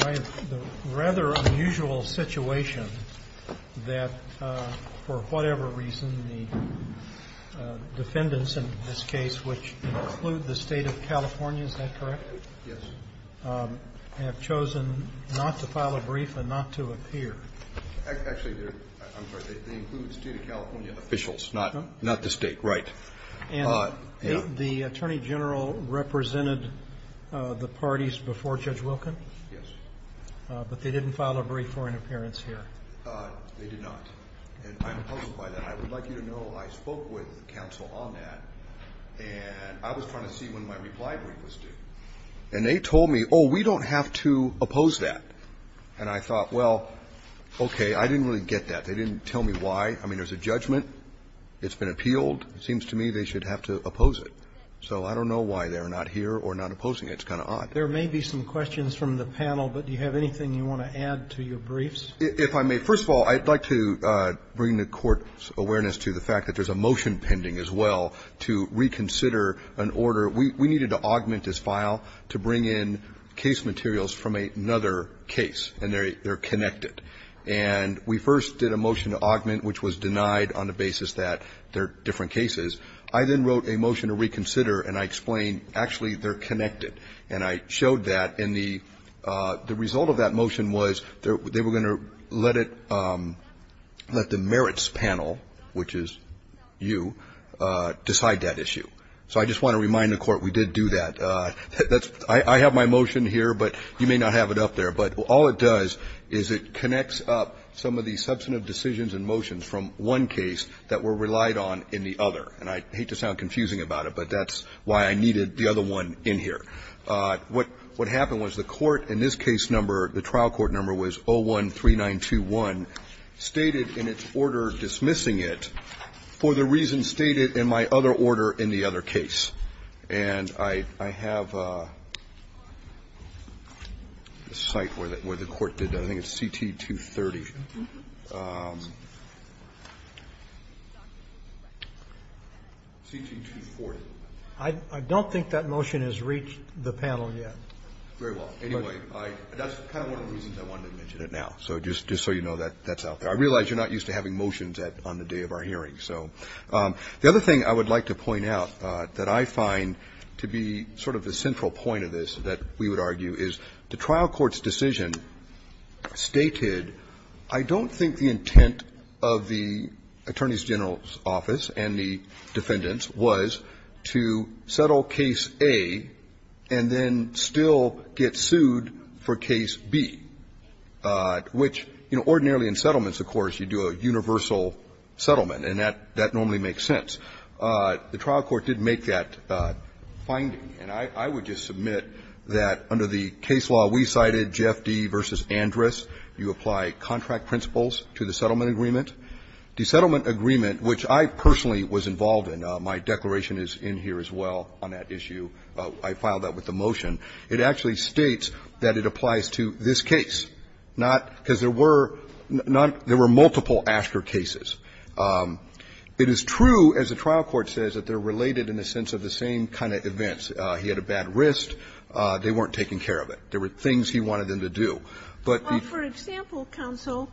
My rather unusual situation that for whatever reason the defendants in this case which include the state of California, is that correct? Yes. Have chosen not to file a brief and not to appear. Actually, I'm sorry, they include state of California officials, not the state, right. And the Attorney General represented the parties before Judge Wilken? Yes. But they didn't file a brief for an appearance here? They did not. And I'm opposed by that. I would like you to know I spoke with counsel on that, and I was trying to see when my reply brief was due. And they told me, oh, we don't have to oppose that. And I thought, well, okay, I didn't really get that. They didn't tell me why. I mean, there's a judgment. It's been appealed. It seems to me they should have to oppose it. So I don't know why they're not here or not opposing it. It's kind of odd. There may be some questions from the panel, but do you have anything you want to add to your briefs? If I may. First of all, I'd like to bring the Court's awareness to the fact that there's a motion pending as well to reconsider an order. We needed to augment this file to bring in case materials from another case, and they're connected. And we first did a motion to augment, which was denied on the basis that they're different cases. I then wrote a motion to reconsider, and I explained, actually, they're connected. And I showed that. And the result of that motion was they were going to let it, let the merits panel, which is you, decide that issue. So I just want to remind the Court we did do that. I have my motion here, but you may not have it up there. But all it does is it connects up some of the substantive decisions and motions from one case that were relied on in the other. And I hate to sound confusing about it, but that's why I needed the other one in here. What happened was the Court in this case number, the trial court number was 013921, stated in its order dismissing it for the reasons stated in my other order in the other case. And I have a site where the Court did that. I think it's CT230. CT240. I don't think that motion has reached the panel yet. Very well. Anyway, that's kind of one of the reasons I wanted to mention it now, just so you know that that's out there. I realize you're not used to having motions on the day of our hearing. So the other thing I would like to point out that I find to be sort of the central point of this that we would argue is the trial court's decision stated, I don't think the intent of the attorney's general's office and the defendant's was to settle case A and then still get sued for case B, which, you know, ordinarily in settlements, of course, you do a universal settlement, and that normally makes sense. The trial court did make that finding, and I would just submit that under the case law we cited, J.F.D. v. Andrus, you apply contract principles to the settlement agreement. The settlement agreement, which I personally was involved in, my declaration is in here as well on that issue, I filed that with the motion, it actually states that it applies to this case, not, because there were not, there were multiple after cases. It is true, as the trial court says, that they're related in a sense of the same kind of events. He had a bad wrist. They weren't taking care of it. There were things he wanted them to do. But the ---- Ginsburg, for example, counsel,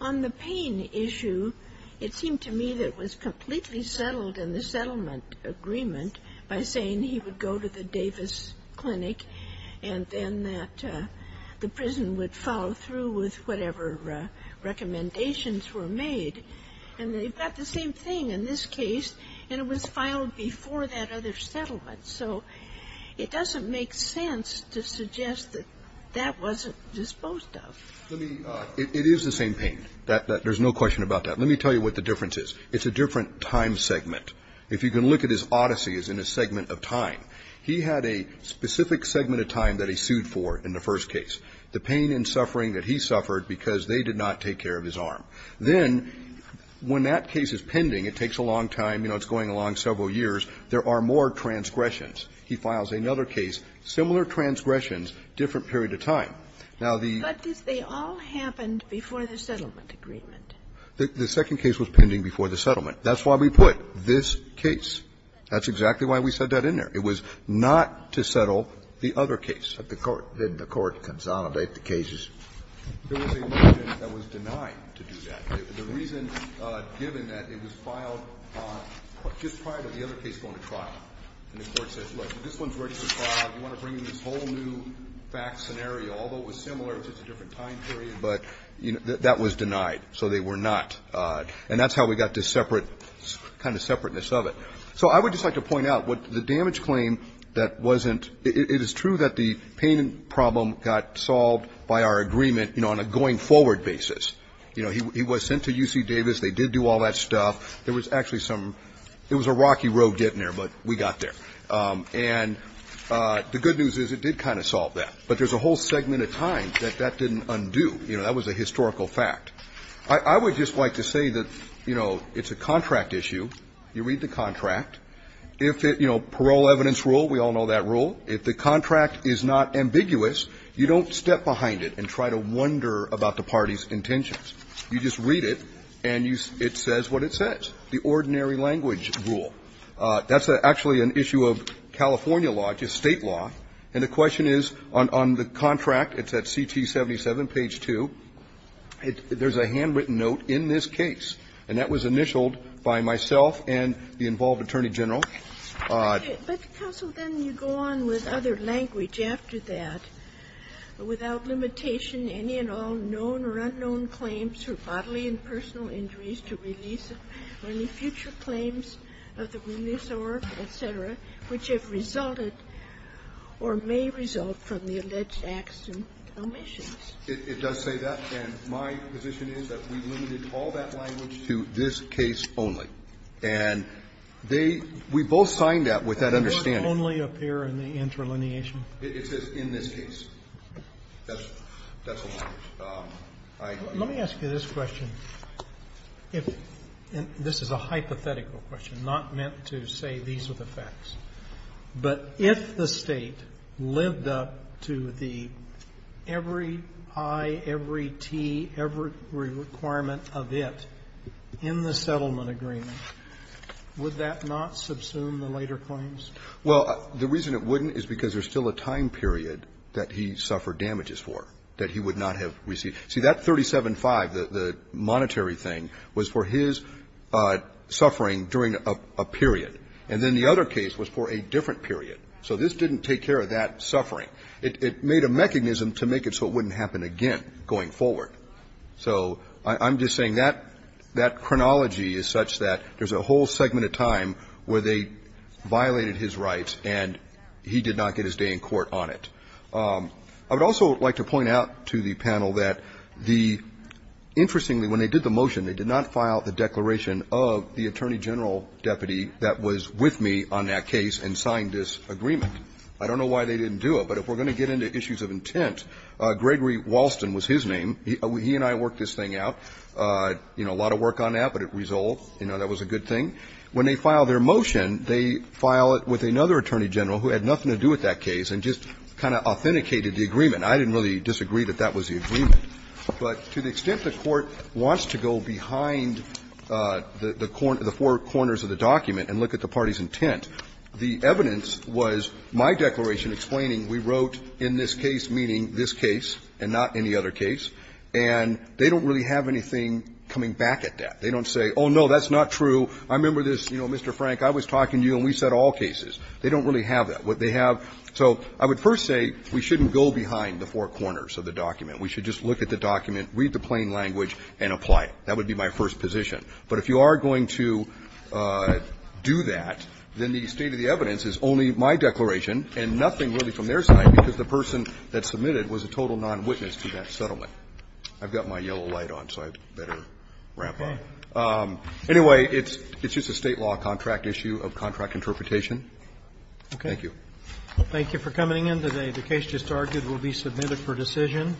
on the Payne issue, it seemed to me that it was completely settled in the settlement agreement by saying he would go to the Davis Clinic and that the prison would follow through with whatever recommendations were made. And they've got the same thing in this case, and it was filed before that other settlement. So it doesn't make sense to suggest that that wasn't disposed of. Let me ---- it is the same Payne. There's no question about that. Let me tell you what the difference is. It's a different time segment. If you can look at his odysseys in a segment of time, he had a specific segment of time that he sued for in the first case, the pain and suffering that he suffered because they did not take care of his arm. Then when that case is pending, it takes a long time, you know, it's going along several years, there are more transgressions. He files another case, similar transgressions, different period of time. Now, the ---- But they all happened before the settlement agreement. The second case was pending before the settlement. That's why we put this case. That's exactly why we said that in there. It was not to settle the other case. Did the Court consolidate the cases? There was a motion that was denied to do that. The reason, given that it was filed just prior to the other case going to trial. And the Court says, look, this one's ready to file. You want to bring in this whole new fact scenario, although it was similar, it's just a different time period. But that was denied. So they were not. And that's how we got this separate, kind of separateness of it. So I would just like to point out what the damage claim that wasn't ---- it is true that the payment problem got solved by our agreement, you know, on a going forward basis. You know, he was sent to UC Davis. They did do all that stuff. There was actually some ---- it was a rocky road getting there, but we got there. And the good news is it did kind of solve that. But there's a whole segment of time that that didn't undo. You know, that was a historical fact. I would just like to say that, you know, it's a contract issue. You read the contract. If it ---- you know, parole evidence rule, we all know that rule. If the contract is not ambiguous, you don't step behind it and try to wonder about the party's intentions. You just read it, and you ---- it says what it says, the ordinary language rule. That's actually an issue of California law, just State law. And the question is, on the contract, it's at CT-77, page 2, there's a handwritten note in this case. And that was initialed by myself and the involved attorney general. Ginsburg-McGill. But, counsel, then you go on with other language after that. Without limitation, any and all known or unknown claims for bodily and personal injuries to release, or any future claims of the remiss or, et cetera, which have resulted or may result from the alleged acts and omissions. It does say that. And my position is that we limited all that language to this case only. And they ---- we both signed that with that understanding. Kennedy. Does only appear in the interlineation? It's just in this case. That's the language. I ---- Let me ask you this question. If ---- and this is a hypothetical question, not meant to say these are the facts. But if the State lived up to the every I, every T, every requirement of it in the settlement agreement, would that not subsume the later claims? Well, the reason it wouldn't is because there's still a time period that he suffered damages for that he would not have received. See, that 37-5, the monetary thing, was for his suffering during a period. And then the other case was for a different period. So this didn't take care of that suffering. It made a mechanism to make it so it wouldn't happen again going forward. So I'm just saying that that chronology is such that there's a whole segment of time where they violated his rights and he did not get his day in court on it. I would also like to point out to the panel that the ---- interestingly, when they did the motion, they did not file the declaration of the attorney general deputy that was with me on that case and signed this agreement. I don't know why they didn't do it. But if we're going to get into issues of intent, Gregory Walston was his name. He and I worked this thing out. You know, a lot of work on that, but it resolved. You know, that was a good thing. When they file their motion, they file it with another attorney general who had nothing to do with that case and just kind of authenticated the agreement. I didn't really disagree that that was the agreement. But to the extent the Court wants to go behind the four corners of the document and look at the party's intent, the evidence was my declaration explaining we wrote in this case meaning this case and not any other case, and they don't really have anything coming back at that. They don't say, oh, no, that's not true. I remember this, you know, Mr. Frank, I was talking to you and we said all cases. They don't really have that. What they have so I would first say we shouldn't go behind the four corners of the document. We should just look at the document, read the plain language, and apply it. That would be my first position. But if you are going to do that, then the state of the evidence is only my declaration and nothing really from their side because the person that submitted was a total nonwitness to that settlement. I've got my yellow light on, so I'd better wrap up. Anyway, it's just a State law contract issue of contract interpretation. Thank you. Roberts, thank you for coming in today. The case just argued will be submitted for decision.